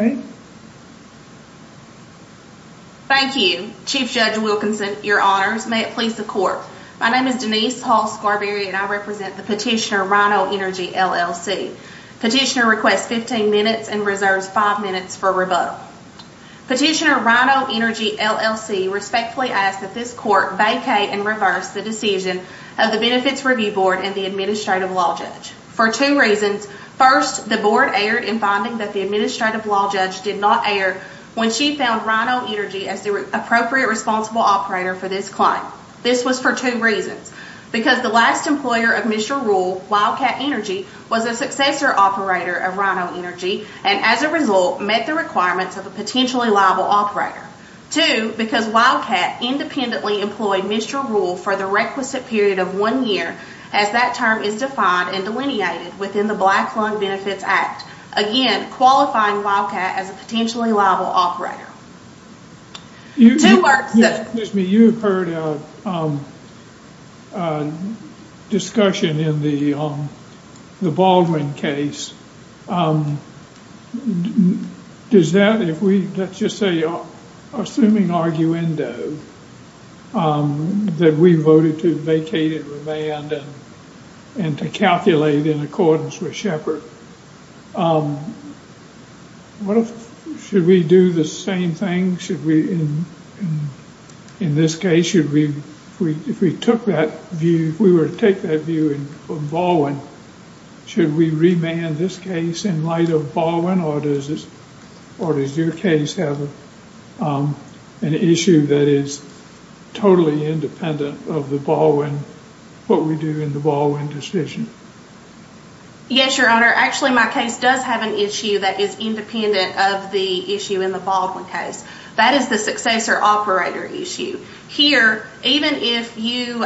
Thank you. Chief Judge Wilkinson, your honors. May it please the court. My name is Denise Hall Scarberry and I represent the petitioner Rhino Energy, LLC. Petitioner requests 15 minutes and reserves 5 minutes for rebuttal. Petitioner Rhino Energy, LLC respectfully asks that this court vacate and reverse the decision of the Benefits Review Board and the Administrative Law Judge. For two reasons. First, the Board erred in finding that the Administrative Law Judge did not err when she found Rhino Energy as the appropriate responsible operator for this claim. This was for two reasons. Because the last employer of Mr. Rule, Wildcat Energy, was a successor operator of Rhino Energy and, as a result, met the requirements of a potentially liable operator. Two, because Wildcat independently employed Mr. Rule for the requisite period of one year as that term is defined and delineated within the Black Lung Benefits Act. Again, qualifying Wildcat as a potentially liable operator. Excuse me, you've heard a discussion in the Baldwin case. Does that, if we, let's just say, assuming arguendo, that we voted to vacate and revand and to calculate in accordance with Shepard. What if, should we do the same thing? Should we, in this case, should we, if we took that view, if we were to take that view in Baldwin, should we revand this case in light of Baldwin? Or does your case have an issue that is totally independent of the Baldwin, what we do in the Baldwin decision? Yes, Your Honor. Actually, my case does have an issue that is independent of the issue in the Baldwin case. That is the successor operator issue. Here, even if you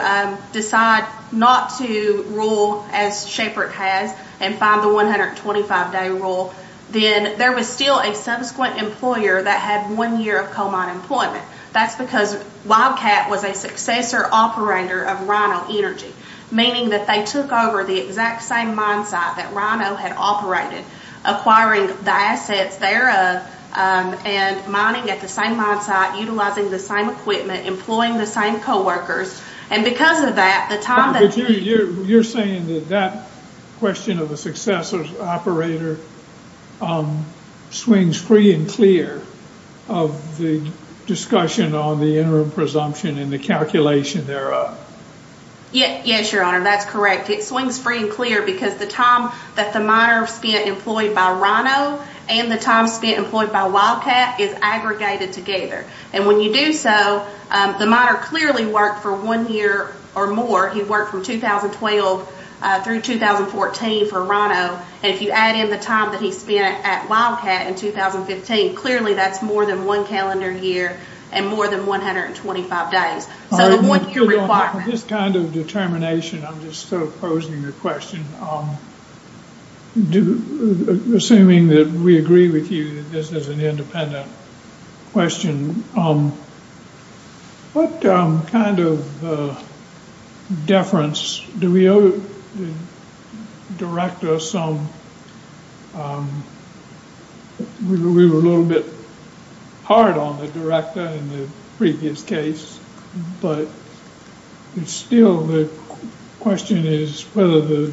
decide not to rule as Shepard has and find the 125-day rule, then there was still a subsequent employer that had one year of coal mine employment. That's because Wildcat was a successor operator of Rhino Energy, meaning that they took over the exact same mine site that Rhino had operated, acquiring the assets thereof and mining at the same mine site, utilizing the same equipment, employing the same coworkers. You're saying that that question of the successor operator swings free and clear of the discussion on the interim presumption and the calculation thereof. Yes, Your Honor, that's correct. It swings free and clear because the time that the miner spent employed by Rhino and the time spent employed by Wildcat is aggregated together. When you do so, the miner clearly worked for one year or more. He worked from 2012 through 2014 for Rhino. If you add in the time that he spent at Wildcat in 2015, clearly that's more than one calendar year and more than 125 days. With this kind of determination, I'm just sort of posing the question. Assuming that we agree with you that this is an independent question, what kind of deference do we owe the director some? We were a little bit hard on the director in the previous case, but still the question is whether the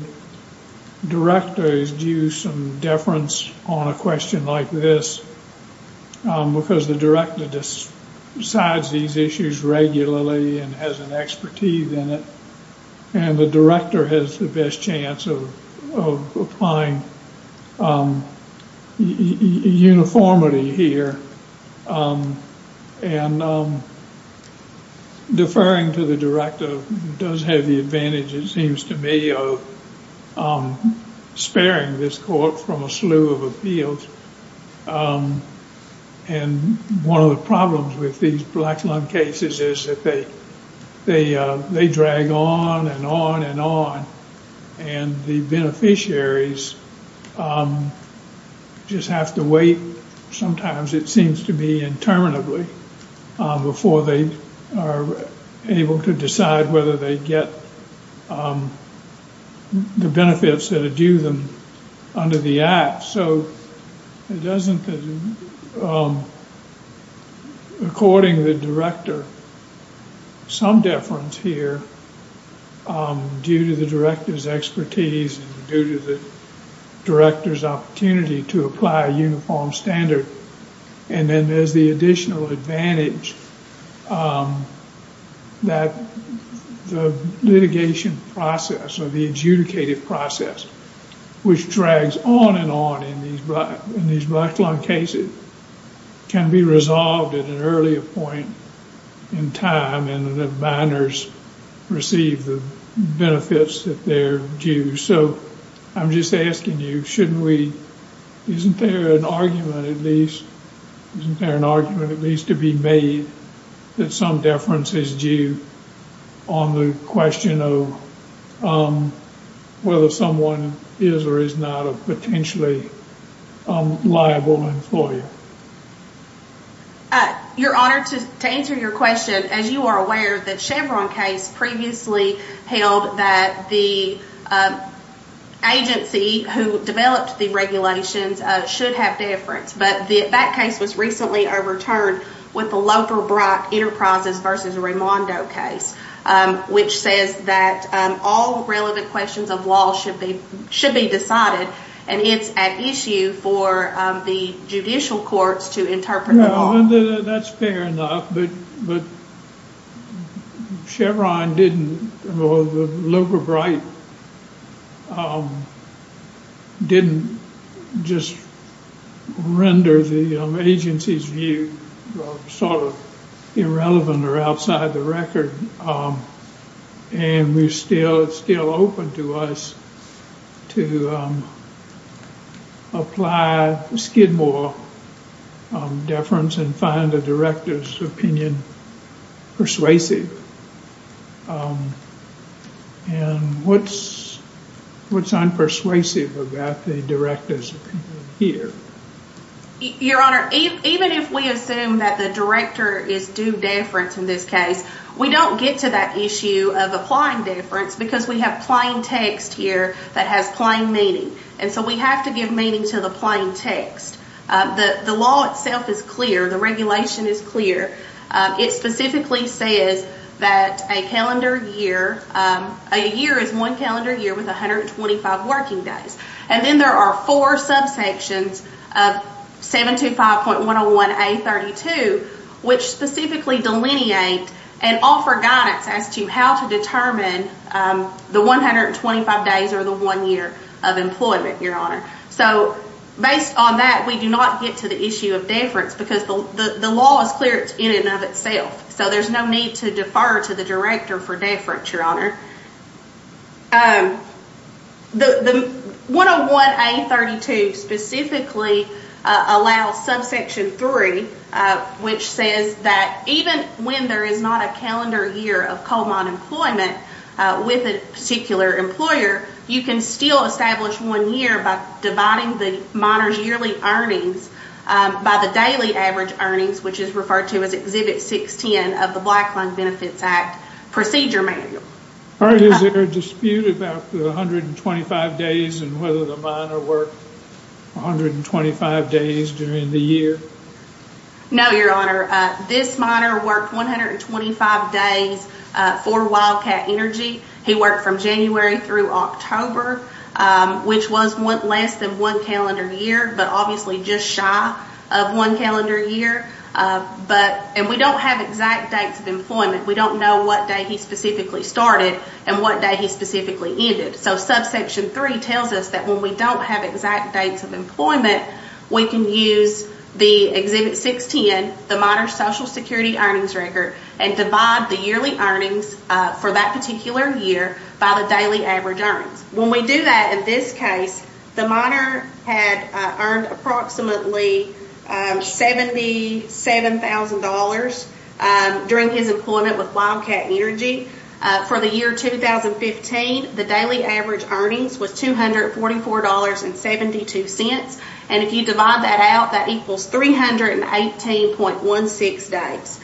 director is due some deference on a question like this. Because the director decides these issues regularly and has an expertise in it. The director has the best chance of applying uniformity here. Deferring to the director does have the advantage, it seems to me, of sparing this court from a slew of appeals. One of the problems with these black lung cases is that they drag on and on and on. The beneficiaries just have to wait. Sometimes it seems to be interminably before they are able to decide whether they get the benefits that are due them under the act. According to the director, some deference here due to the director's expertise and due to the director's opportunity to apply a uniform standard. Then there's the additional advantage that the litigation process or the adjudicative process, which drags on and on in these black lung cases, can be resolved at an earlier point in time and the binders receive the benefits that they're due. I'm just asking you, isn't there an argument at least to be made that some deference is due on the question of whether someone is or is not a potentially liable employer? You're honored to answer your question. As you are aware, the Chevron case previously held that the agency who developed the regulations should have deference, but that case was recently overturned with the Lothar Brock Enterprises v. Raimondo case, which says that all relevant questions of law should be decided and it's at issue for the judicial courts to interpret the law. It's still open to us to apply Skidmore deference and find the director's opinion persuasive. What's unpersuasive about the director's opinion here? Even if we assume that the director is due deference in this case, we don't get to that issue of applying deference because we have plain text here that has plain meaning. We have to give meaning to the plain text. The law itself is clear. The regulation is clear. It specifically says that a year is one calendar year with 125 working days. Then there are four subsections of 725.101A32, which specifically delineate and offer guidance as to how to determine the 125 days or the one year of employment. Based on that, we do not get to the issue of deference because the law is clear in and of itself. There's no need to defer to the director for deference. The 101A32 specifically allows subsection 3, which says that even when there is not a calendar year of coal mine employment with a particular employer, you can still establish one year by dividing the miner's yearly earnings by the daily average earnings, which is referred to as Exhibit 610 of the Black Lung Benefits Act Procedure Manual. Is there a dispute about the 125 days and whether the miner worked 125 days during the year? No, Your Honor. This miner worked 125 days for Wildcat Energy. He worked from January through October, which was less than one calendar year, but obviously just shy of one calendar year. We don't have exact dates of employment. We don't know what day he specifically started and what day he specifically ended. Subsection 3 tells us that when we don't have exact dates of employment, we can use the Exhibit 610, the miner's Social Security earnings record, and divide the yearly earnings for that particular year by the daily average earnings. When we do that in this case, the miner had earned approximately $77,000 during his employment with Wildcat Energy. For the year 2015, the daily average earnings was $244.72. If you divide that out, that equals 318.16 days.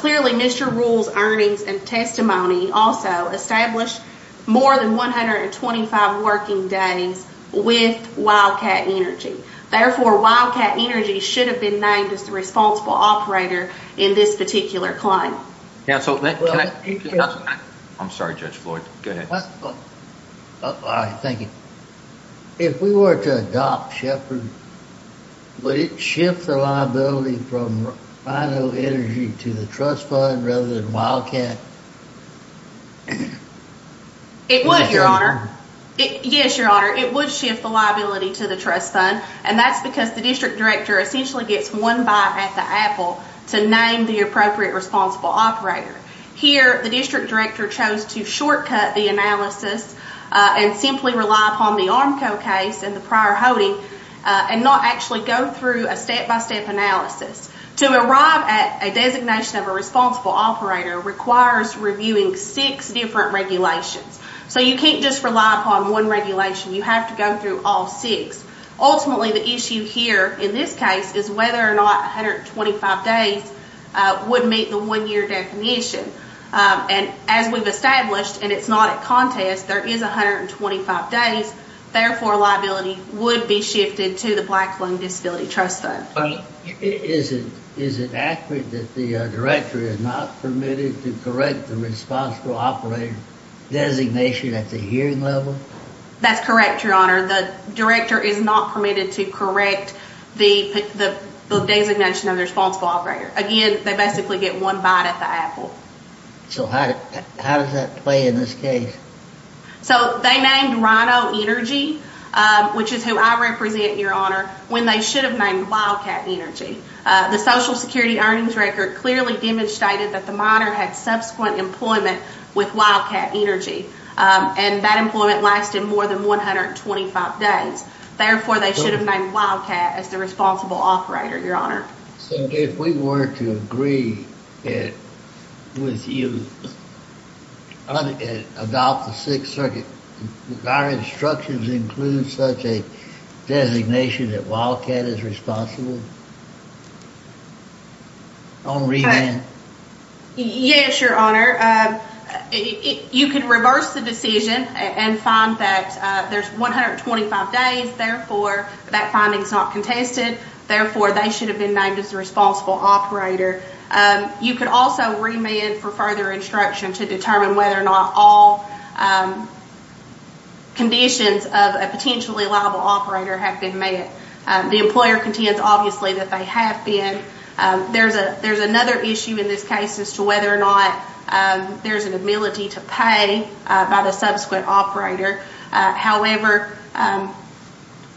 Clearly, Mr. Rule's earnings and testimony also established more than 125 working days with Wildcat Energy. Therefore, Wildcat Energy should have been named as the responsible operator in this particular claim. I'm sorry, Judge Floyd. Go ahead. All right. Thank you. If we were to adopt Shepard, would it shift the liability from Rhino Energy to the trust fund rather than Wildcat? It would, Your Honor. Yes, Your Honor. It would shift the liability to the trust fund. That's because the district director essentially gets one bite at the apple to name the appropriate responsible operator. Here, the district director chose to shortcut the analysis and simply rely upon the Armco case and the prior holding and not actually go through a step-by-step analysis. To arrive at a designation of a responsible operator requires reviewing six different regulations. You can't just rely upon one regulation. You have to go through all six. Ultimately, the issue here in this case is whether or not 125 days would meet the one-year definition. As we've established, and it's not a contest, there is 125 days. Therefore, liability would be shifted to the Black Flung Disability Trust Fund. Is it accurate that the director is not permitted to correct the responsible operator designation at the hearing level? That's correct, Your Honor. The director is not permitted to correct the designation of the responsible operator. Again, they basically get one bite at the apple. How does that play in this case? They named Rhino Energy, which is who I represent, Your Honor, when they should have named Wildcat Energy. The Social Security earnings record clearly demonstrated that the minor had subsequent employment with Wildcat Energy. That employment lasted more than 125 days. Therefore, they should have named Wildcat as the responsible operator, Your Honor. If we were to agree with you about the Sixth Circuit, do our instructions include such a designation that Wildcat is responsible on remand? Yes, Your Honor. You could reverse the decision and find that there's 125 days. Therefore, that finding is not contested. Therefore, they should have been named as the responsible operator. You could also remand for further instruction to determine whether or not all conditions of a potentially liable operator have been met. The employer contends, obviously, that they have been. There's another issue in this case as to whether or not there's an ability to pay by the subsequent operator. However,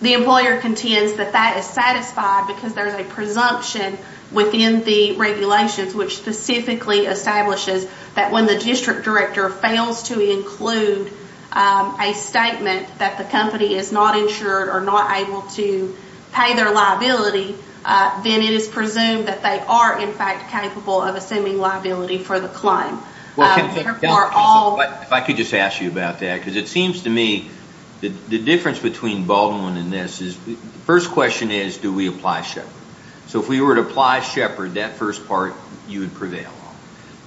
the employer contends that that is satisfied because there's a presumption within the regulations which specifically establishes that when the district director fails to include a statement that the company is not insured or not able to pay their liability, then it is presumed that they are, in fact, capable of assuming liability for the claim. If I could just ask you about that, because it seems to me the difference between Baldwin and this is, the first question is, do we apply Shepard? If we were to apply Shepard, that first part you would prevail on.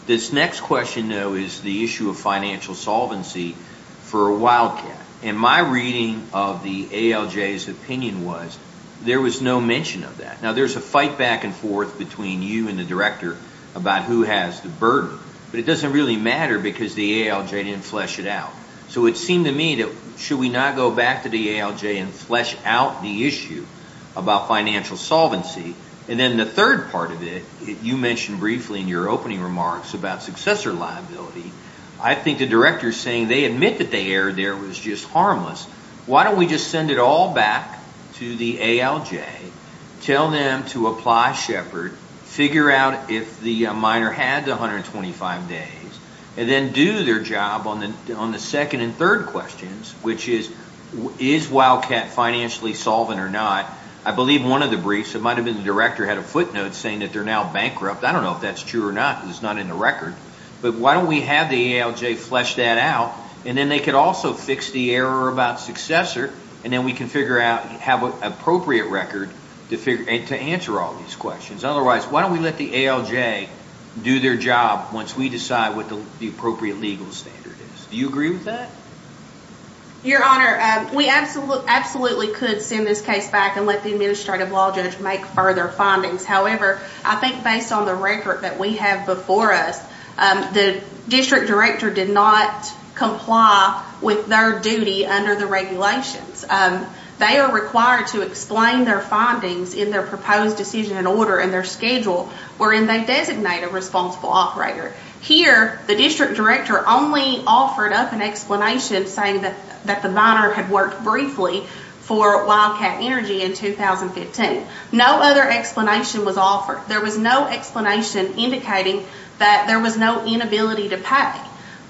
This next question, though, is the issue of financial solvency for Wildcat. And my reading of the ALJ's opinion was there was no mention of that. Now, there's a fight back and forth between you and the director about who has the burden, but it doesn't really matter because the ALJ didn't flesh it out. So it seemed to me that should we not go back to the ALJ and flesh out the issue about financial solvency? And then the third part of it, you mentioned briefly in your opening remarks about successor liability, I think the director is saying they admit that the error there was just harmless. Why don't we just send it all back to the ALJ, tell them to apply Shepard, figure out if the miner had the 125 days, and then do their job on the second and third questions, which is, is Wildcat financially solvent or not? I believe one of the briefs, it might have been the director had a footnote saying that they're now bankrupt. I don't know if that's true or not because it's not in the record. But why don't we have the ALJ flesh that out, and then they could also fix the error about successor, and then we can figure out how appropriate record to answer all these questions. Otherwise, why don't we let the ALJ do their job once we decide what the appropriate legal standard is? Do you agree with that? Your Honor, we absolutely could send this case back and let the administrative law judge make further findings. However, I think based on the record that we have before us, the district director did not comply with their duty under the regulations. They are required to explain their findings in their proposed decision and order in their schedule wherein they designate a responsible operator. Here, the district director only offered up an explanation saying that the miner had worked briefly for Wildcat Energy in 2015. No other explanation was offered. There was no explanation indicating that there was no inability to pay.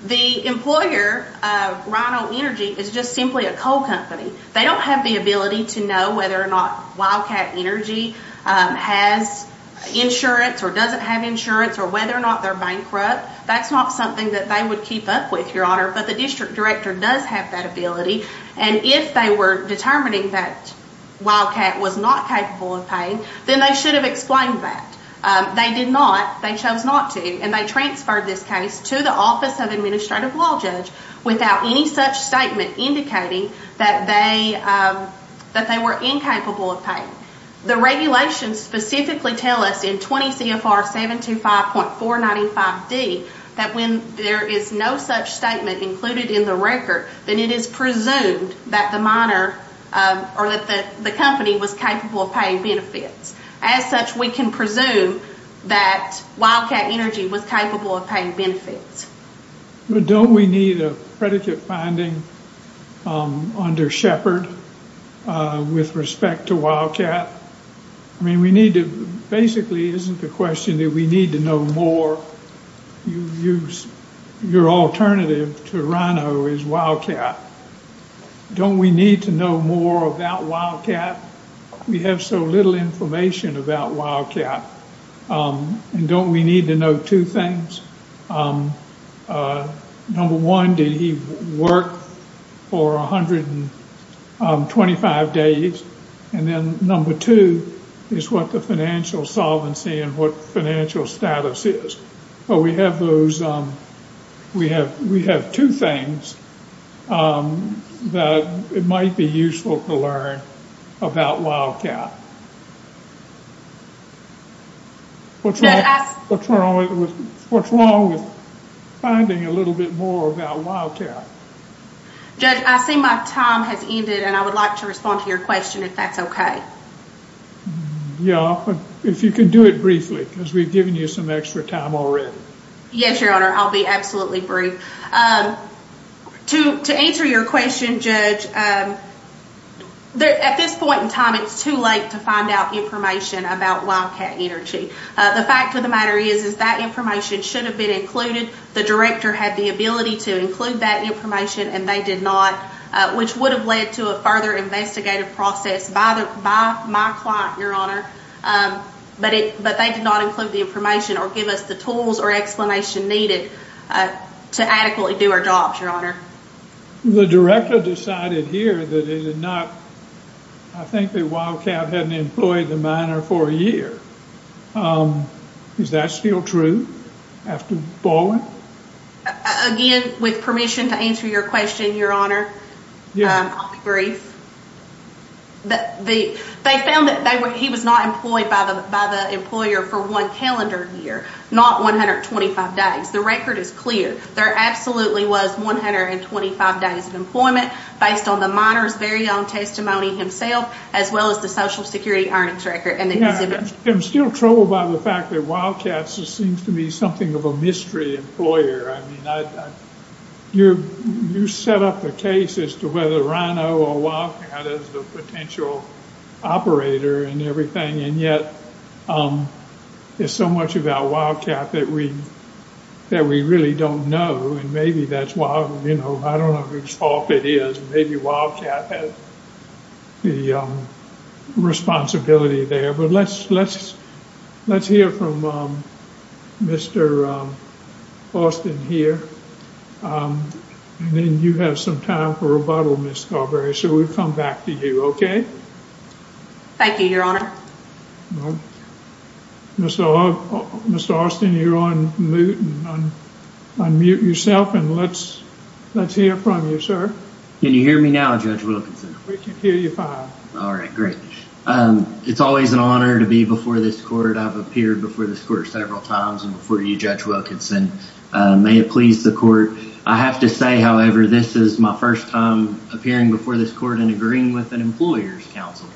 The employer, Rhino Energy, is just simply a coal company. They don't have the ability to know whether or not Wildcat Energy has insurance or doesn't have insurance or whether or not they're bankrupt. That's not something that they would keep up with, Your Honor, but the district director does have that ability. If they were determining that Wildcat was not capable of paying, then they should have explained that. They did not. They chose not to. They transferred this case to the Office of Administrative Law Judge without any such statement indicating that they were incapable of paying. The regulations specifically tell us in 20 CFR 725.495D that when there is no such statement included in the record, then it is presumed that the company was capable of paying benefits. As such, we can presume that Wildcat Energy was capable of paying benefits. But don't we need a predicate finding under Shepard with respect to Wildcat? I mean, basically isn't the question that we need to know more? Your alternative to Rhino is Wildcat. Don't we need to know more about Wildcat? We have so little information about Wildcat. And don't we need to know two things? Number one, did he work for 125 days? And then number two is what the financial solvency and what financial status is. We have two things that might be useful to learn about Wildcat. What's wrong with finding a little bit more about Wildcat? Judge, I see my time has ended and I would like to respond to your question if that's okay. Yeah, if you could do it briefly because we've given you some extra time already. Yes, Your Honor, I'll be absolutely brief. To answer your question, Judge, at this point in time it's too late to find out information about Wildcat Energy. The fact of the matter is that information should have been included. The director had the ability to include that information and they did not, which would have led to a further investigative process by my client, Your Honor. But they did not include the information or give us the tools or explanation needed to adequately do our jobs, Your Honor. The director decided here that he did not, I think that Wildcat hadn't employed the miner for a year. Is that still true after Baldwin? Again, with permission to answer your question, Your Honor, I'll be brief. They found that he was not employed by the employer for one calendar year, not 125 days. The record is clear. There absolutely was 125 days of employment based on the miner's very own testimony himself, as well as the Social Security earnings record and the exhibit. I'm still troubled by the fact that Wildcat seems to me something of a mystery employer. I mean, you set up a case as to whether Rhino or Wildcat is the potential operator and everything, and yet there's so much about Wildcat that we really don't know. And maybe that's why, you know, I don't know whose fault it is. Maybe Wildcat has the responsibility there. Well, let's hear from Mr. Austin here. And then you have some time for rebuttal, Ms. Scarberry. So we'll come back to you, okay? Thank you, Your Honor. Mr. Austin, you're on mute yourself, and let's hear from you, sir. Can you hear me now, Judge Wilkinson? We can hear you fine. All right, great. It's always an honor to be before this court. I've appeared before this court several times before you, Judge Wilkinson. May it please the court. I have to say, however, this is my first time appearing before this court and agreeing with an employer's counsel.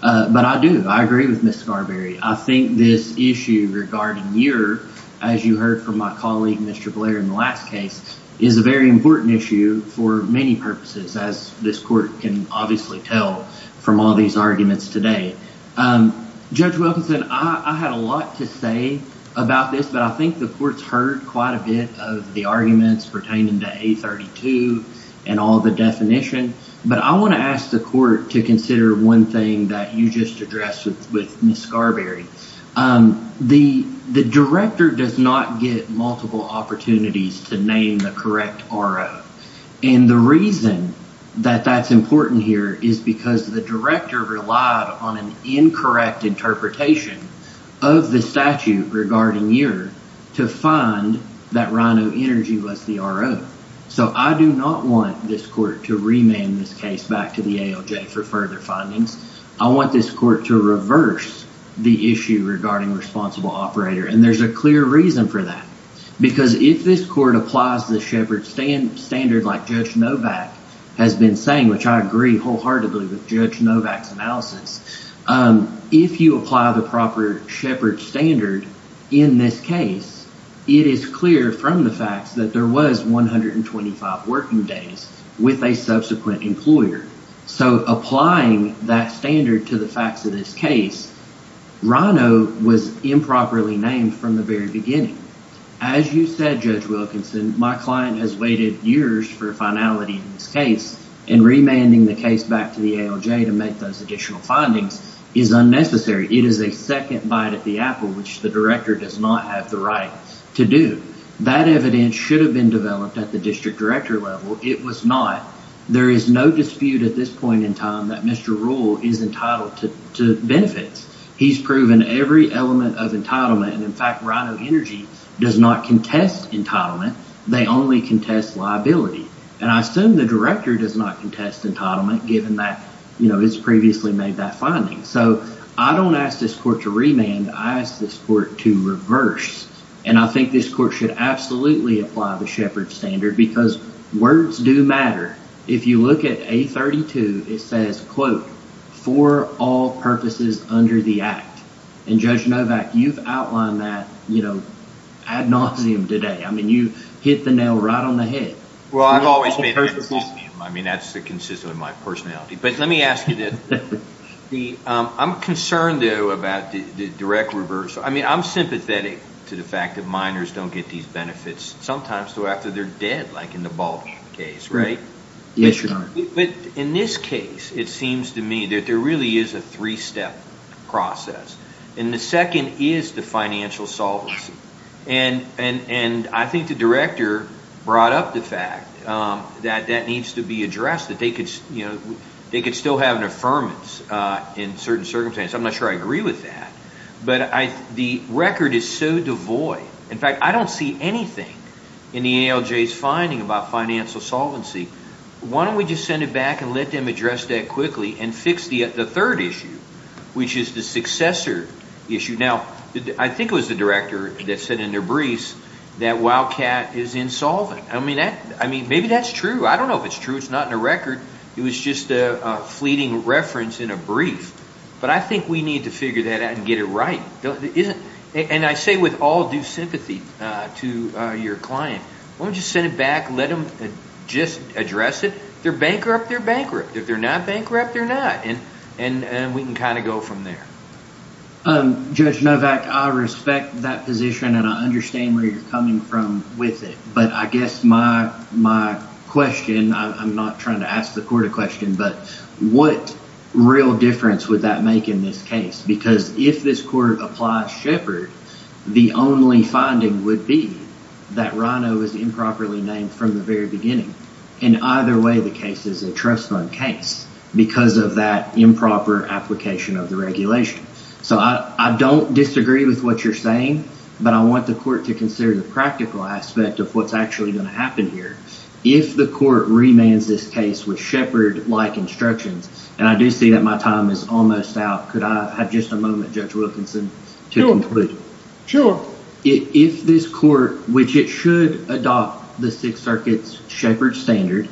But I do. I agree with Ms. Scarberry. I think this issue regarding your, as you heard from my colleague, Mr. Blair, in the last case, is a very important issue for many purposes, as this court can obviously tell from all these arguments today. Judge Wilkinson, I had a lot to say about this, but I think the court's heard quite a bit of the arguments pertaining to A32 and all the definition. But I want to ask the court to consider one thing that you just addressed with Ms. Scarberry. The director does not get multiple opportunities to name the correct RO. And the reason that that's important here is because the director relied on an incorrect interpretation of the statute regarding your, to find that Rhino Energy was the RO. So I do not want this court to remand this case back to the ALJ for further findings. I want this court to reverse the issue regarding responsible operator. And there's a clear reason for that. Because if this court applies the Shepard standard like Judge Novak has been saying, which I agree wholeheartedly with Judge Novak's analysis, if you apply the proper Shepard standard in this case, it is clear from the facts that there was 125 working days with a subsequent employer. So applying that standard to the facts of this case, Rhino was improperly named from the very beginning. As you said, Judge Wilkinson, my client has waited years for finality in this case. And remanding the case back to the ALJ to make those additional findings is unnecessary. It is a second bite at the apple, which the director does not have the right to do. That evidence should have been developed at the district director level. It was not. There is no dispute at this point in time that Mr. Rule is entitled to benefits. He's proven every element of entitlement. And in fact, Rhino Energy does not contest entitlement. They only contest liability. And I assume the director does not contest entitlement given that, you know, it's previously made that finding. So I don't ask this court to remand. I ask this court to reverse. And I think this court should absolutely apply the Shepard standard because words do matter. If you look at A32, it says, quote, for all purposes under the act. And Judge Novak, you've outlined that, you know, ad nauseum today. I mean, you hit the nail right on the head. Well, I've always made it ad nauseum. I mean, that's consistent with my personality. But let me ask you this. I'm concerned, though, about the direct reversal. I mean, I'm sympathetic to the fact that minors don't get these benefits sometimes after they're dead, like in the Baldwin case, right? Yes, Your Honor. But in this case, it seems to me that there really is a three-step process. And the second is the financial solvency. And I think the director brought up the fact that that needs to be addressed, that they could still have an affirmance in certain circumstances. I'm not sure I agree with that. But the record is so devoid. In fact, I don't see anything in the ALJ's finding about financial solvency. Why don't we just send it back and let them address that quickly and fix the third issue, which is the successor issue? Now, I think it was the director that said in their briefs that Wildcat is insolvent. I mean, maybe that's true. I don't know if it's true. It's not in the record. It was just a fleeting reference in a brief. But I think we need to figure that out and get it right. And I say with all due sympathy to your client, why don't we just send it back and let them just address it? If they're bankrupt, they're bankrupt. If they're not bankrupt, they're not. And we can kind of go from there. Judge Novak, I respect that position, and I understand where you're coming from with it. But I guess my question, I'm not trying to ask the court a question, but what real difference would that make in this case? Because if this court applies Shepard, the only finding would be that Rhino is improperly named from the very beginning. In either way, the case is a trust fund case because of that improper application of the regulation. So I don't disagree with what you're saying, but I want the court to consider the practical aspect of what's actually going to happen here. If the court remands this case with Shepard-like instructions, and I do see that my time is almost out. Could I have just a moment, Judge Wilkinson, to conclude? If this court, which it should adopt the Sixth Circuit's Shepard standard,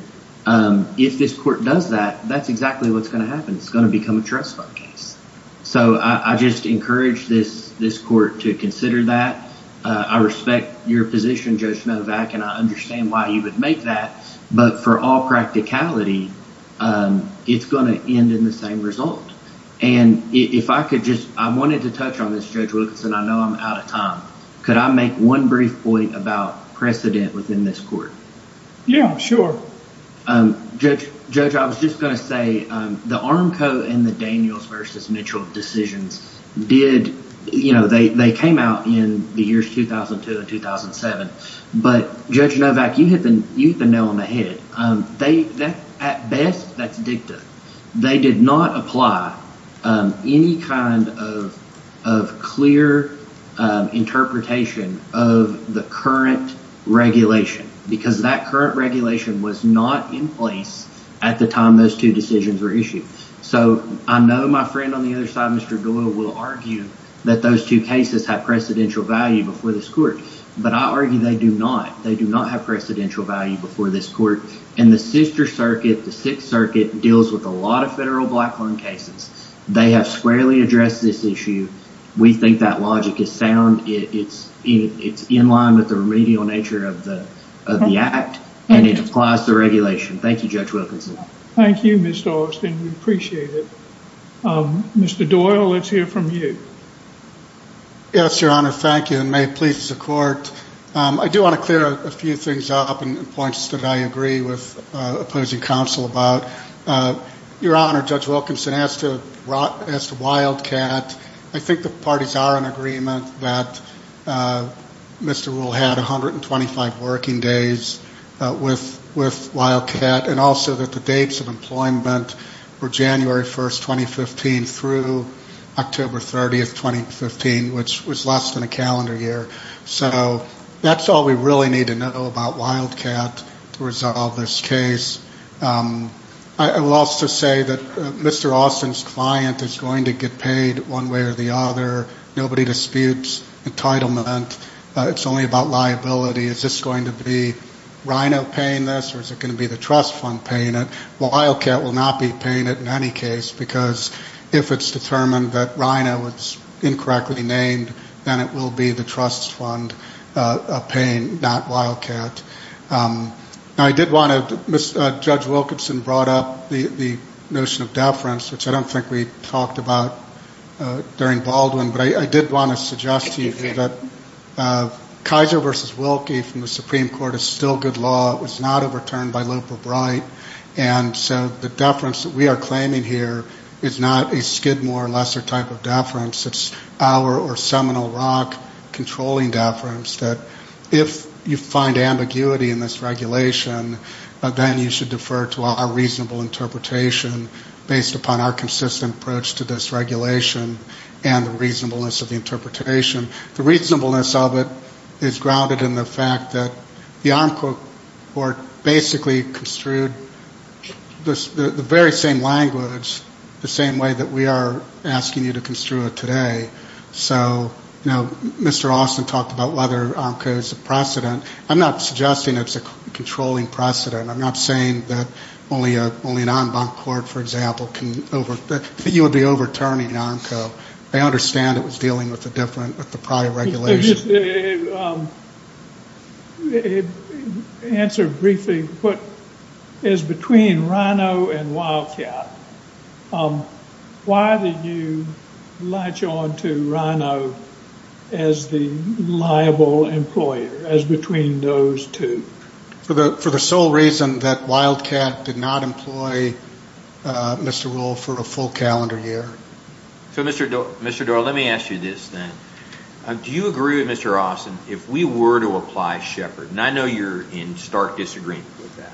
if this court does that, that's exactly what's going to happen. It's going to become a trust fund case. So I just encourage this court to consider that. I respect your position, Judge Novak, and I understand why you would make that. But for all practicality, it's going to end in the same result. And if I could just, I wanted to touch on this, Judge Wilkinson, I know I'm out of time. Could I make one brief point about precedent within this court? Yeah, sure. Judge, I was just going to say the Armco and the Daniels v. Mitchell decisions did, you know, they came out in the years 2002 and 2007. But, Judge Novak, you hit the nail on the head. At best, that's dicta. They did not apply any kind of clear interpretation of the current regulation. Because that current regulation was not in place at the time those two decisions were issued. So I know my friend on the other side, Mr. Doyle, will argue that those two cases have precedential value before this court. But I argue they do not. They do not have precedential value before this court. And the Sister Circuit, the Sixth Circuit, deals with a lot of federal black loan cases. They have squarely addressed this issue. We think that logic is sound. It's in line with the remedial nature of the act. And it applies to regulation. Thank you, Judge Wilkinson. Thank you, Mr. Austin. We appreciate it. Mr. Doyle, let's hear from you. Yes, Your Honor. Thank you, and may it please the Court. I do want to clear a few things up and points that I agree with opposing counsel about. Your Honor, Judge Wilkinson, as to Wildcat, I think the parties are in agreement that Mr. Rule had 125 working days with Wildcat, and also that the dates of employment were January 1, 2015, through October 30, 2015, which was less than a calendar year. So that's all we really need to know about Wildcat to resolve this case. I will also say that Mr. Austin's client is going to get paid one way or the other. Nobody disputes entitlement. It's only about liability. Is this going to be RINO paying this, or is it going to be the trust fund paying it? Well, Wildcat will not be paying it in any case, because if it's determined that RINO was incorrectly named, then it will be the trust fund paying, not Wildcat. Now, I did want to, Judge Wilkinson brought up the notion of deference, which I don't think we talked about during Baldwin, but I did want to suggest to you that Kaiser v. Wilkie from the Supreme Court is still good law. It was not overturned by loop or bright. And so the deference that we are claiming here is not a Skidmore or lesser type of deference. It's our or Seminole Rock controlling deference that if you find ambiguity in this regulation, then you should defer to our reasonable interpretation based upon our consistent approach to this regulation and the reasonableness of the interpretation. The reasonableness of it is grounded in the fact that the AMCO court basically construed the very same language the same way that we are asking you to construe it today. So, you know, Mr. Austin talked about whether AMCO is a precedent. I'm not suggesting it's a controlling precedent. I'm not saying that only an en banc court, for example, can over, that you would be overturning AMCO. I understand it was dealing with a different, with the prior regulation. Answer briefly is between Rhino and Wildcat. Why did you latch on to Rhino as the liable employer, as between those two? For the sole reason that Wildcat did not employ Mr. Rule for a full calendar year. So, Mr. Doar, let me ask you this then. Do you agree with Mr. Austin if we were to apply Shepard? And I know you're in stark disagreement with that.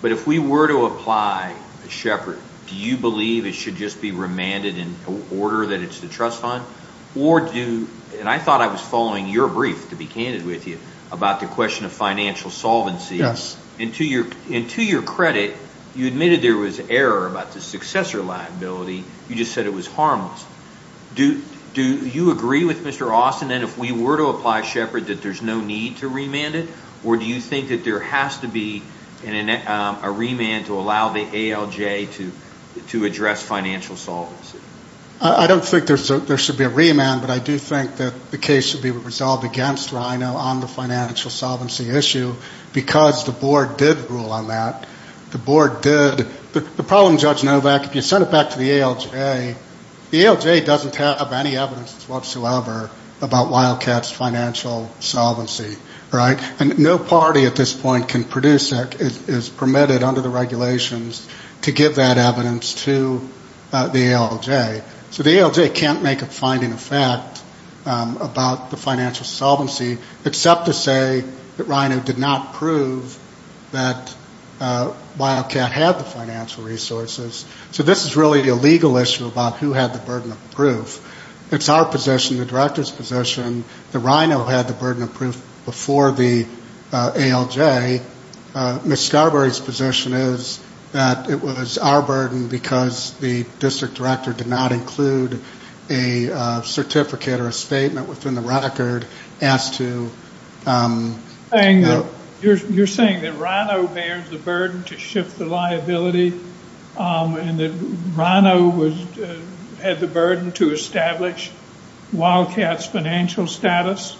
But if we were to apply Shepard, do you believe it should just be remanded in order that it's the trust fund? And I thought I was following your brief, to be candid with you, about the question of financial solvency. And to your credit, you admitted there was error about the successor liability. You just said it was harmless. Do you agree with Mr. Austin then if we were to apply Shepard that there's no need to remand it? Or do you think that there has to be a remand to allow the ALJ to address financial solvency? I don't think there should be a remand. But I do think that the case should be resolved against Rhino on the financial solvency issue. Because the board did rule on that. The board did. The problem, Judge Novak, if you send it back to the ALJ, the ALJ doesn't have any evidence whatsoever about Wildcat's financial solvency. And no party at this point can produce that, is permitted under the regulations, to give that evidence to the ALJ. So the ALJ can't make a finding of fact about the financial solvency, except to say that Rhino did not prove that Wildcat had the financial resources. So this is really a legal issue about who had the burden of proof. It's our position, the director's position, that Rhino had the burden of proof before the ALJ. Ms. Starbury's position is that it was our burden because the district director did not include a certificate or a statement within the record as to. You're saying that Rhino bears the burden to shift the liability and that Rhino had the burden to establish Wildcat's financial status?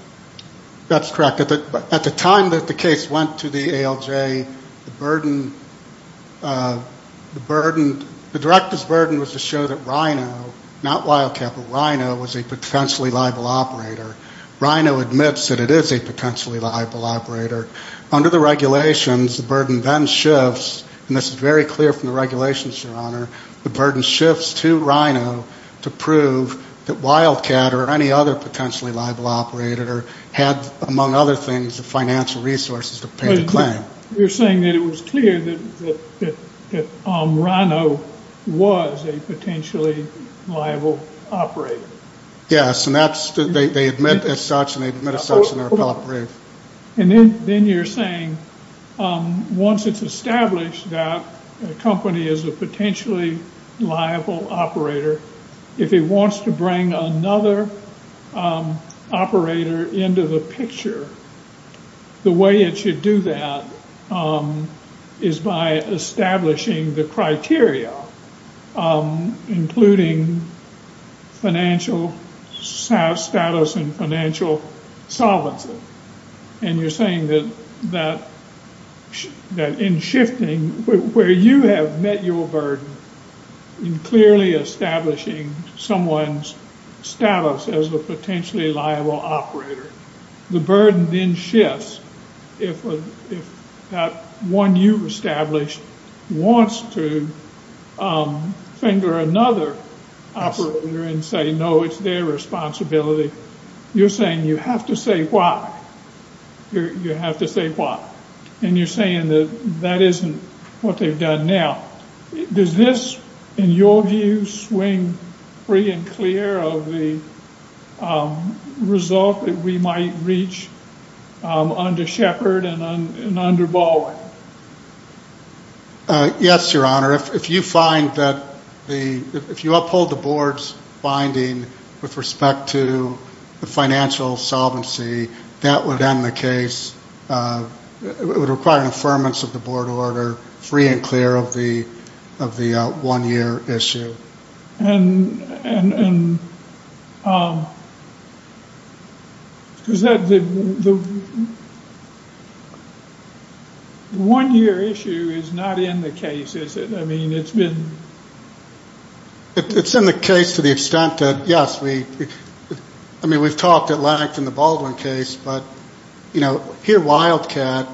That's correct. At the time that the case went to the ALJ, the director's burden was to show that Rhino, not Wildcat, but Rhino was a potentially liable operator. Rhino admits that it is a potentially liable operator. Under the regulations, the burden then shifts, and this is very clear from the regulations, Your Honor, the burden shifts to Rhino to prove that Wildcat or any other potentially liable operator had, among other things, the financial resources to pay the claim. You're saying that it was clear that Rhino was a potentially liable operator? Yes, and they admit as such and they admit as such in their appellate brief. Then you're saying once it's established that a company is a potentially liable operator, if it wants to bring another operator into the picture, the way it should do that is by establishing the criteria, including financial status and financial solvency, and you're saying that in shifting where you have met your burden in clearly establishing someone's status as a potentially liable operator, the burden then shifts if that one you've established wants to finger another operator and say no, it's their responsibility. You're saying you have to say why. You have to say why, and you're saying that that isn't what they've done now. Does this, in your view, swing free and clear of the result that we might reach under Shepard and under Baldwin? Yes, Your Honor. If you find that the – if you uphold the board's finding with respect to the financial solvency, that would end the case. It would require an affirmance of the board order free and clear of the one-year issue. And the one-year issue is not in the case, is it? I mean, it's been – It's in the case to the extent that, yes, we – I mean, we've talked at length in the Baldwin case, but, you know, here Wildcat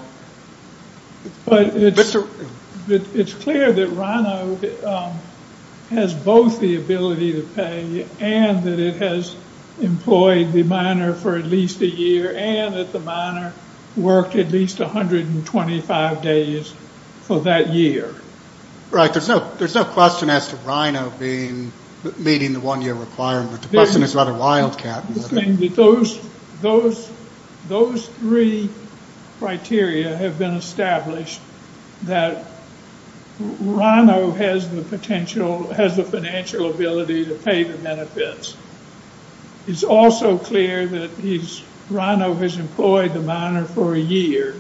– But it's clear that Rhino has both the ability to pay and that it has employed the minor for at least a year and that the minor worked at least 125 days for that year. Right. There's no question as to Rhino being – meeting the one-year requirement. The question is about a Wildcat. Those three criteria have been established that Rhino has the potential – has the financial ability to pay the benefits. It's also clear that Rhino has employed the minor for a year.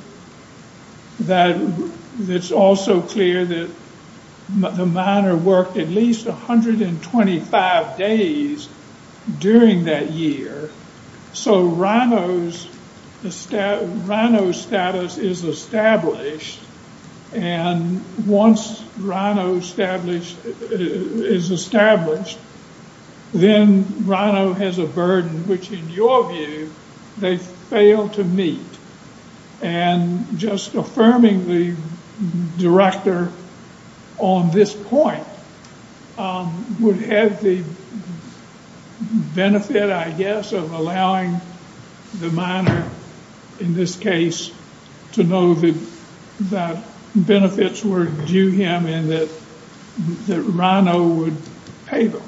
It's also clear that the minor worked at least 125 days during that year. So, Rhino's status is established. And once Rhino is established, then Rhino has a burden which, in your view, they fail to meet. And just affirming the director on this point would have the benefit, I guess, of allowing the minor, in this case, to know that benefits were due him and that Rhino would pay them.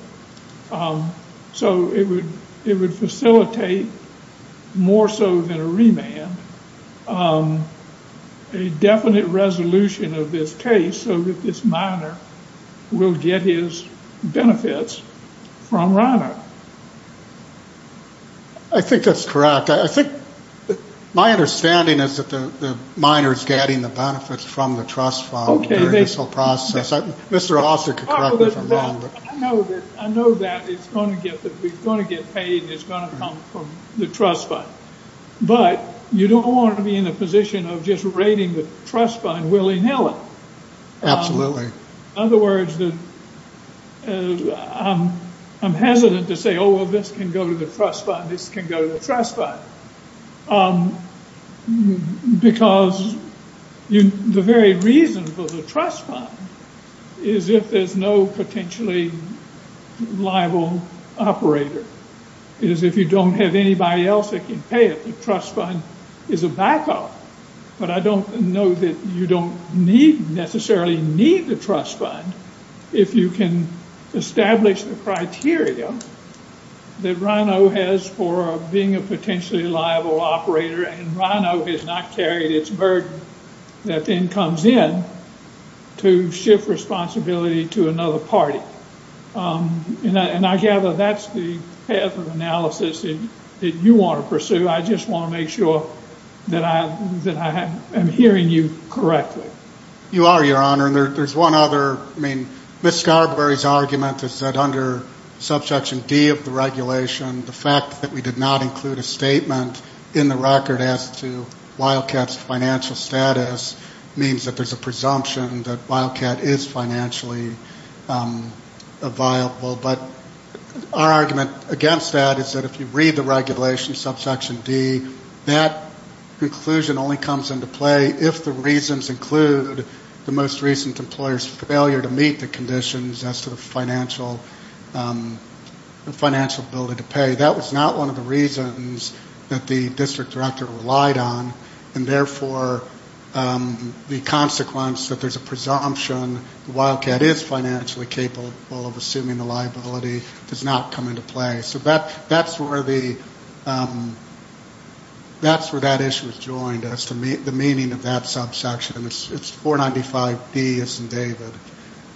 So, it would facilitate, more so than a remand, a definite resolution of this case so that this minor will get his benefits from Rhino. I think that's correct. I think my understanding is that the minor is getting the benefits from the trust fund during this whole process. Mr. Auster could correct me if I'm wrong. I know that it's going to get paid and it's going to come from the trust fund. But you don't want to be in a position of just rating the trust fund willy-nilly. In other words, I'm hesitant to say, oh, well, this can go to the trust fund, this can go to the trust fund. Because the very reason for the trust fund is if there's no potentially liable operator. It is if you don't have anybody else that can pay it. The trust fund is a back-up. But I don't know that you don't necessarily need the trust fund if you can establish the criteria that Rhino has for being a potentially liable operator. And Rhino has not carried its burden that then comes in to shift responsibility to another party. And I gather that's the path of analysis that you want to pursue. I just want to make sure that I am hearing you correctly. You are, Your Honor. And there's one other, I mean, Ms. Scarberry's argument is that under subsection D of the regulation, the fact that we did not include a statement in the record as to Wildcat's financial status means that there's a presumption that Wildcat is financially viable. But our argument against that is that if you read the regulation in subsection D, that conclusion only comes into play if the reasons include the most recent employer's failure to meet the conditions as to the financial ability to pay. That was not one of the reasons that the district director relied on, and therefore the consequence that there's a presumption Wildcat is financially capable of assuming the liability does not come into play. So that's where the, that's where that issue is joined as to the meaning of that subsection. It's 495B, yes, and David.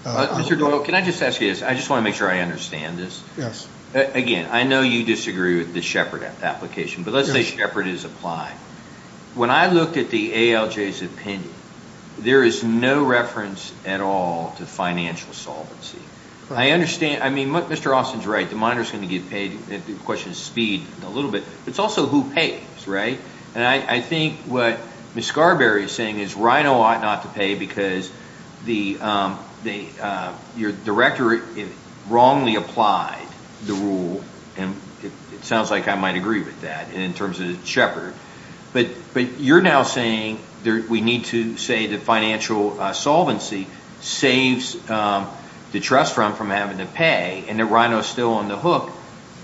Mr. Doyle, can I just ask you this? I just want to make sure I understand this. Yes. Again, I know you disagree with the Shepard application, but let's say Shepard is applied. When I looked at the ALJ's opinion, there is no reference at all to financial solvency. I understand, I mean, Mr. Austin's right. The monitor is going to get paid. The question is speed a little bit. It's also who pays, right? And I think what Ms. Scarberry is saying is Rhino ought not to pay because your director wrongly applied the rule, and it sounds like I might agree with that in terms of Shepard. But you're now saying we need to say that financial solvency saves the trust fund from having to pay and that Rhino is still on the hook.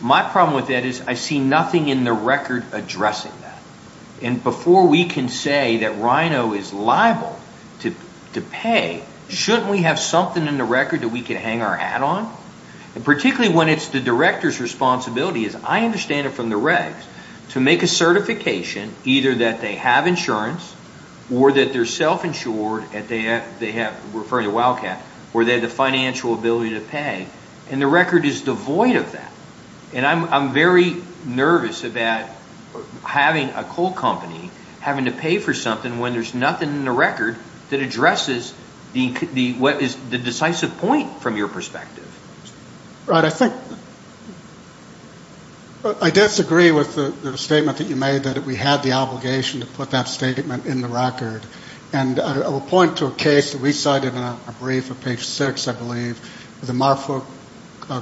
My problem with that is I see nothing in the record addressing that. And before we can say that Rhino is liable to pay, shouldn't we have something in the record that we can hang our hat on? And particularly when it's the director's responsibility, as I understand it from the regs, to make a certification either that they have insurance or that they're self-insured, referring to Wildcat, where they have the financial ability to pay, and the record is devoid of that. And I'm very nervous about having a coal company having to pay for something when there's nothing in the record that addresses what is the decisive point from your perspective. Right. I disagree with the statement that you made that we had the obligation to put that statement in the record. And I will point to a case that we cited in a brief on page 6, I believe, the Marfolk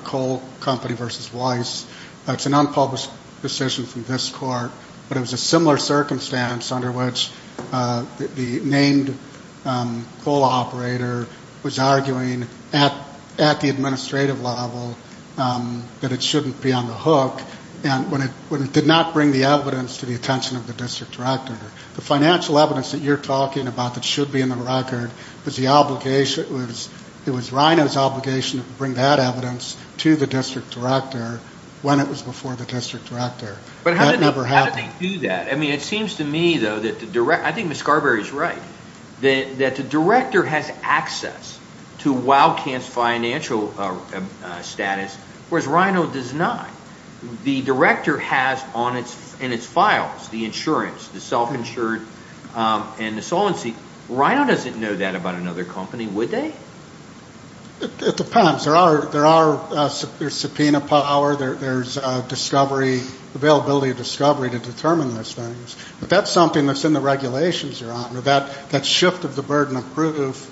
Coal Company v. Weiss. It's an unpublished decision from this court, but it was a similar circumstance under which the named coal operator was arguing at the administrative level that it shouldn't be on the hook, and when it did not bring the evidence to the attention of the district director. The financial evidence that you're talking about that should be in the record was the obligation, it was RINO's obligation to bring that evidence to the district director when it was before the district director. But how did they do that? I mean, it seems to me, though, that the director, I think Ms. Scarberry's right, that the director has access to Wildcat's financial status, whereas RINO does not. The director has in its files the insurance, the self-insured, and the solvency. RINO doesn't know that about another company, would they? It depends. There are subpoena power. There's availability of discovery to determine those things. But that's something that's in the regulations you're on. That shift of the burden of proof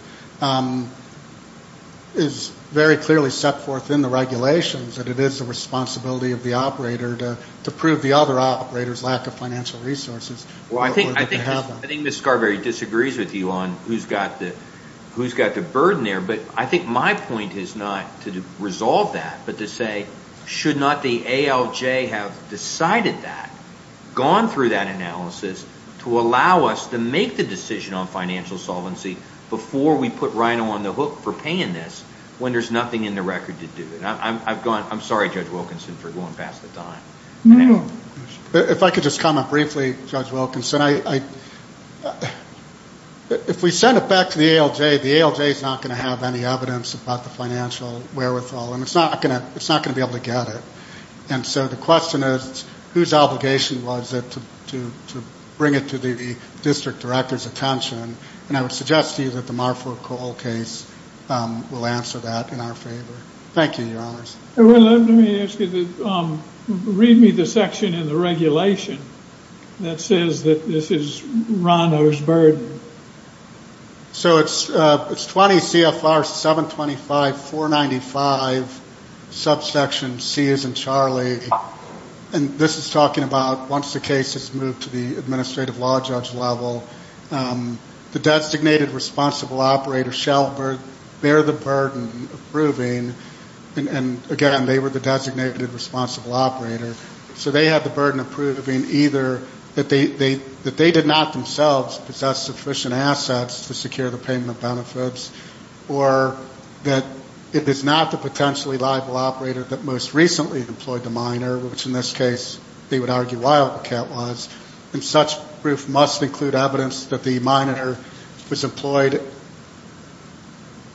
is very clearly set forth in the regulations, that it is the responsibility of the operator to prove the other operator's lack of financial resources. I think Ms. Scarberry disagrees with you on who's got the burden there, but I think my point is not to resolve that, but to say should not the ALJ have decided that, gone through that analysis, to allow us to make the decision on financial solvency before we put RINO on the hook for paying this when there's nothing in the record to do it? I'm sorry, Judge Wilkinson, for going past the time. If I could just comment briefly, Judge Wilkinson. If we send it back to the ALJ, the ALJ is not going to have any evidence about the financial wherewithal, and it's not going to be able to get it. And so the question is, whose obligation was it to bring it to the district director's attention? And I would suggest to you that the Marford Cole case will answer that in our favor. Thank you, Your Honors. Let me ask you, read me the section in the regulation that says that this is RINO's burden. So it's 20 CFR 725.495, subsection C as in Charlie, and this is talking about once the case has moved to the administrative law judge level, the designated responsible operator shall bear the burden of proving, and again, they were the designated responsible operator, so they have the burden of proving either that they did not themselves possess sufficient assets to secure the payment benefits, or that it is not the potentially liable operator that most recently employed the miner, which in this case they would argue Wildcat was, and such proof must include evidence that the miner was employed.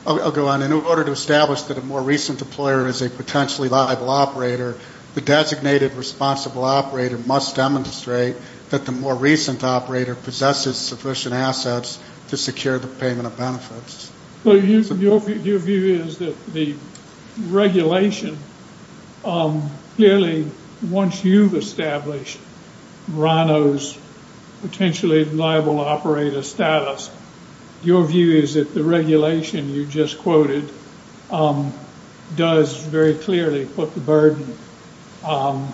I'll go on. In order to establish that a more recent employer is a potentially liable operator, the designated responsible operator must demonstrate that the more recent operator possesses sufficient assets to secure the payment of benefits. So your view is that the regulation, clearly once you've established RINO's potentially liable operator status, your view is that the regulation you just quoted does very clearly put the burden upon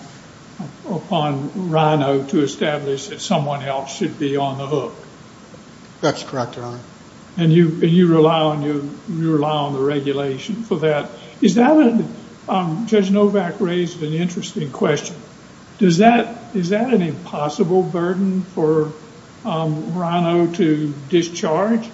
RINO to establish that someone else should be on the hook. That's correct, Your Honor. And you rely on the regulation for that. Judge Novak raised an interesting question. Is that an impossible burden for RINO to discharge?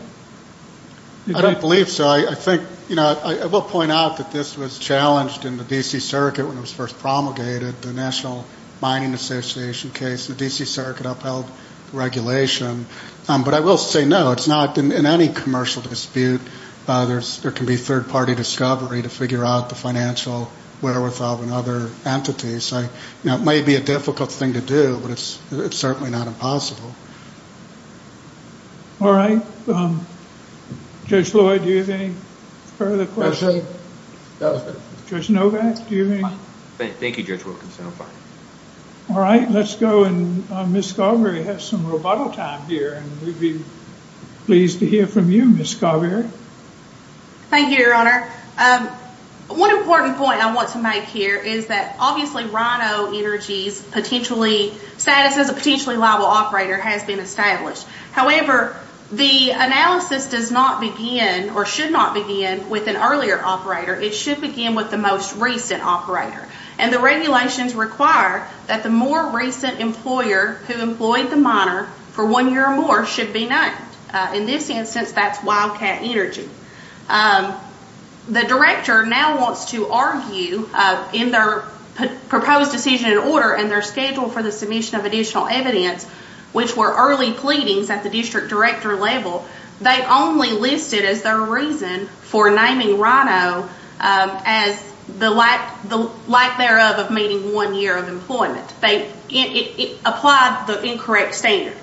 I don't believe so. I will point out that this was challenged in the D.C. Circuit when it was first promulgated, the National Mining Association case. The D.C. Circuit upheld the regulation. But I will say no, it's not in any commercial dispute. There can be third-party discovery to figure out the financial wherewithal in other entities. It may be a difficult thing to do, but it's certainly not impossible. All right. Judge Lloyd, do you have any further questions? Judge Novak, do you have any? Thank you, Judge Wilkinson. All right, let's go. Ms. Scarberry has some rebuttal time here, and we'd be pleased to hear from you, Ms. Scarberry. Thank you, Your Honor. One important point I want to make here is that, obviously, RINO Energy's status as a potentially liable operator has been established. However, the analysis does not begin or should not begin with an earlier operator. It should begin with the most recent operator. And the regulations require that the more recent employer who employed the miner for one year or more should be known. In this instance, that's Wildcat Energy. The director now wants to argue in their proposed decision and order and their schedule for the submission of additional evidence, which were early pleadings at the district director level, they only listed as their reason for naming RINO as the lack thereof of meeting one year of employment. It applied the incorrect standard.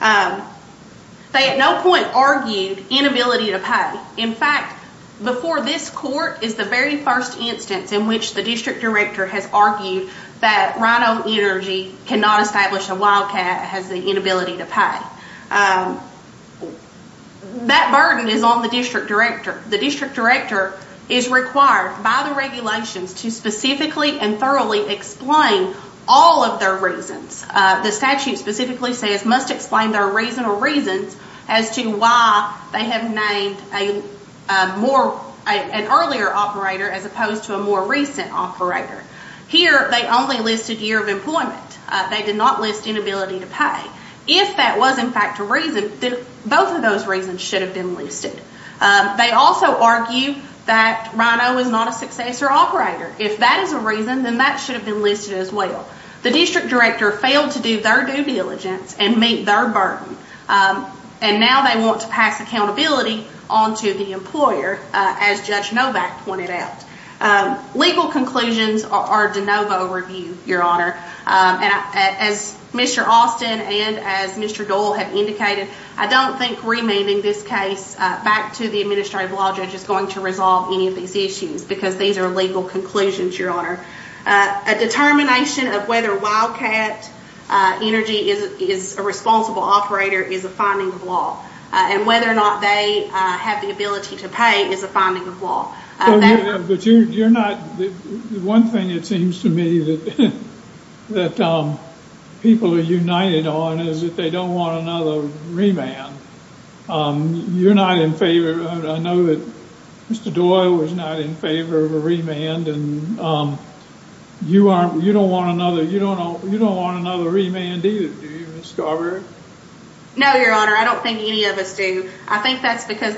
They at no point argued inability to pay. In fact, before this court is the very first instance in which the district director has argued that RINO Energy cannot establish a Wildcat as the inability to pay. That burden is on the district director. The district director is required by the regulations to specifically and thoroughly explain all of their reasons. The statute specifically says must explain their reason or reasons as to why they have named an earlier operator as opposed to a more recent operator. Here, they only listed year of employment. They did not list inability to pay. If that was in fact a reason, then both of those reasons should have been listed. They also argue that RINO is not a successor operator. If that is a reason, then that should have been listed as well. The district director failed to do their due diligence and meet their burden. And now they want to pass accountability on to the employer, as Judge Novak pointed out. Legal conclusions are de novo reviewed, Your Honor. As Mr. Austin and as Mr. Dole have indicated, I don't think remanding this case back to the administrative law judge is going to resolve any of these issues because these are legal conclusions, Your Honor. A determination of whether Wildcat Energy is a responsible operator is a finding of law. And whether or not they have the ability to pay is a finding of law. But you're not—one thing it seems to me that people are united on is that they don't want another remand. You're not in favor—I know that Mr. Doyle was not in favor of a remand, and you don't want another remand either, do you, Ms. Scarberry? No, Your Honor. I don't think any of us do. I think that's because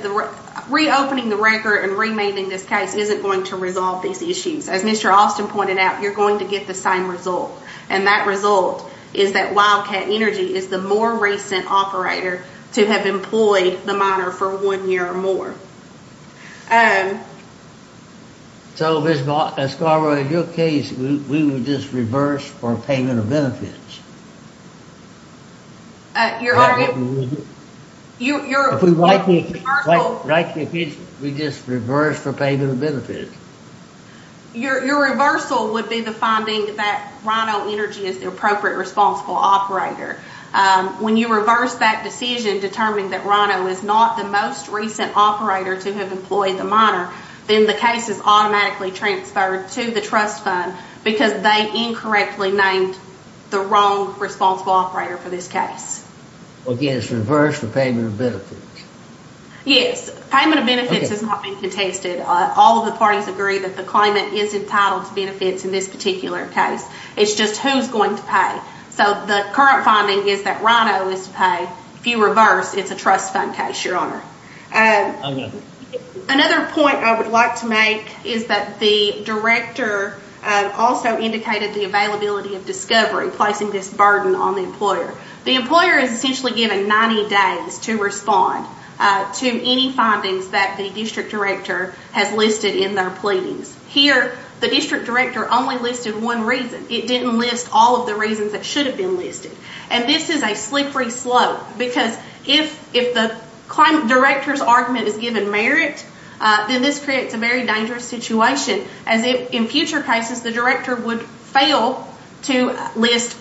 reopening the record and remanding this case isn't going to resolve these issues. As Mr. Austin pointed out, you're going to get the same result. And that result is that Wildcat Energy is the more recent operator to have employed the miner for one year or more. So, Ms. Scarberry, in your case, we would just reverse for payment of benefits? Your Honor— If we write the accusation, we just reverse for payment of benefits? Your reversal would be the finding that Rhino Energy is the appropriate responsible operator. When you reverse that decision, determining that Rhino is not the most recent operator to have employed the miner, then the case is automatically transferred to the trust fund because they incorrectly named the wrong responsible operator for this case. Again, it's reversed for payment of benefits? Yes. Payment of benefits has not been contested. All of the parties agree that the claimant is entitled to benefits in this particular case. It's just who's going to pay. So the current finding is that Rhino is to pay. If you reverse, it's a trust fund case, Your Honor. Another point I would like to make is that the director also indicated the availability of discovery, placing this burden on the employer. The employer is essentially given 90 days to respond to any findings that the district director has listed in their pleadings. Here, the district director only listed one reason. It didn't list all of the reasons that should have been listed. This is a slippery slope because if the director's argument is given merit, then this creates a very dangerous situation. In future cases, the director would fail to list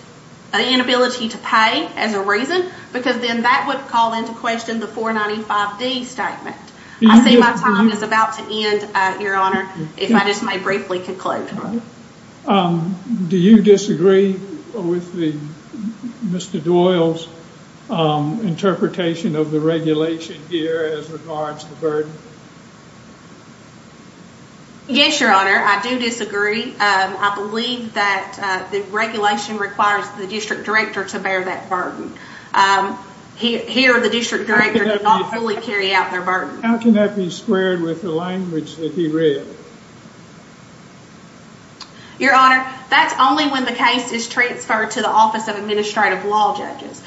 an inability to pay as a reason because then that would call into question the 495D statement. I see my time is about to end, Your Honor, if I just may briefly conclude. Do you disagree with Mr. Doyle's interpretation of the regulation here as regards to burden? Yes, Your Honor, I do disagree. I believe that the regulation requires the district director to bear that burden. Here, the district director cannot fully carry out their burden. How can that be squared with the language that he read? Your Honor, that's only when the case is transferred to the Office of Administrative Law Judges.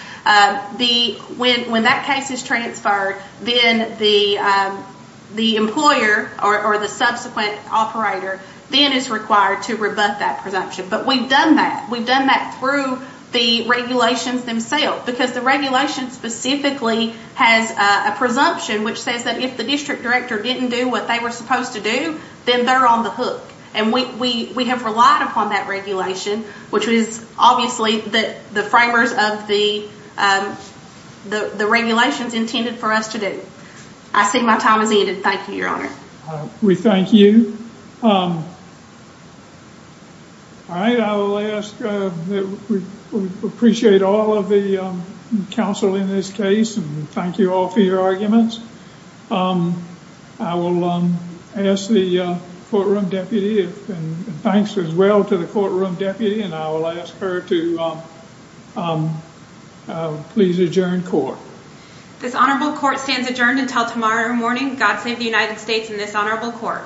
When that case is transferred, then the employer or the subsequent operator is required to rebut that presumption. But we've done that. We've done that through the regulations themselves because the regulation specifically has a presumption which says that if the district director didn't do what they were supposed to do, then they're on the hook. And we have relied upon that regulation, which is obviously the framers of the regulations intended for us to do. I see my time has ended. Thank you, Your Honor. We thank you. All right, I will ask that we appreciate all of the counsel in this case and thank you all for your arguments. I will ask the courtroom deputy, and thanks as well to the courtroom deputy, and I will ask her to please adjourn court. This honorable court stands adjourned until tomorrow morning. God save the United States and this honorable court.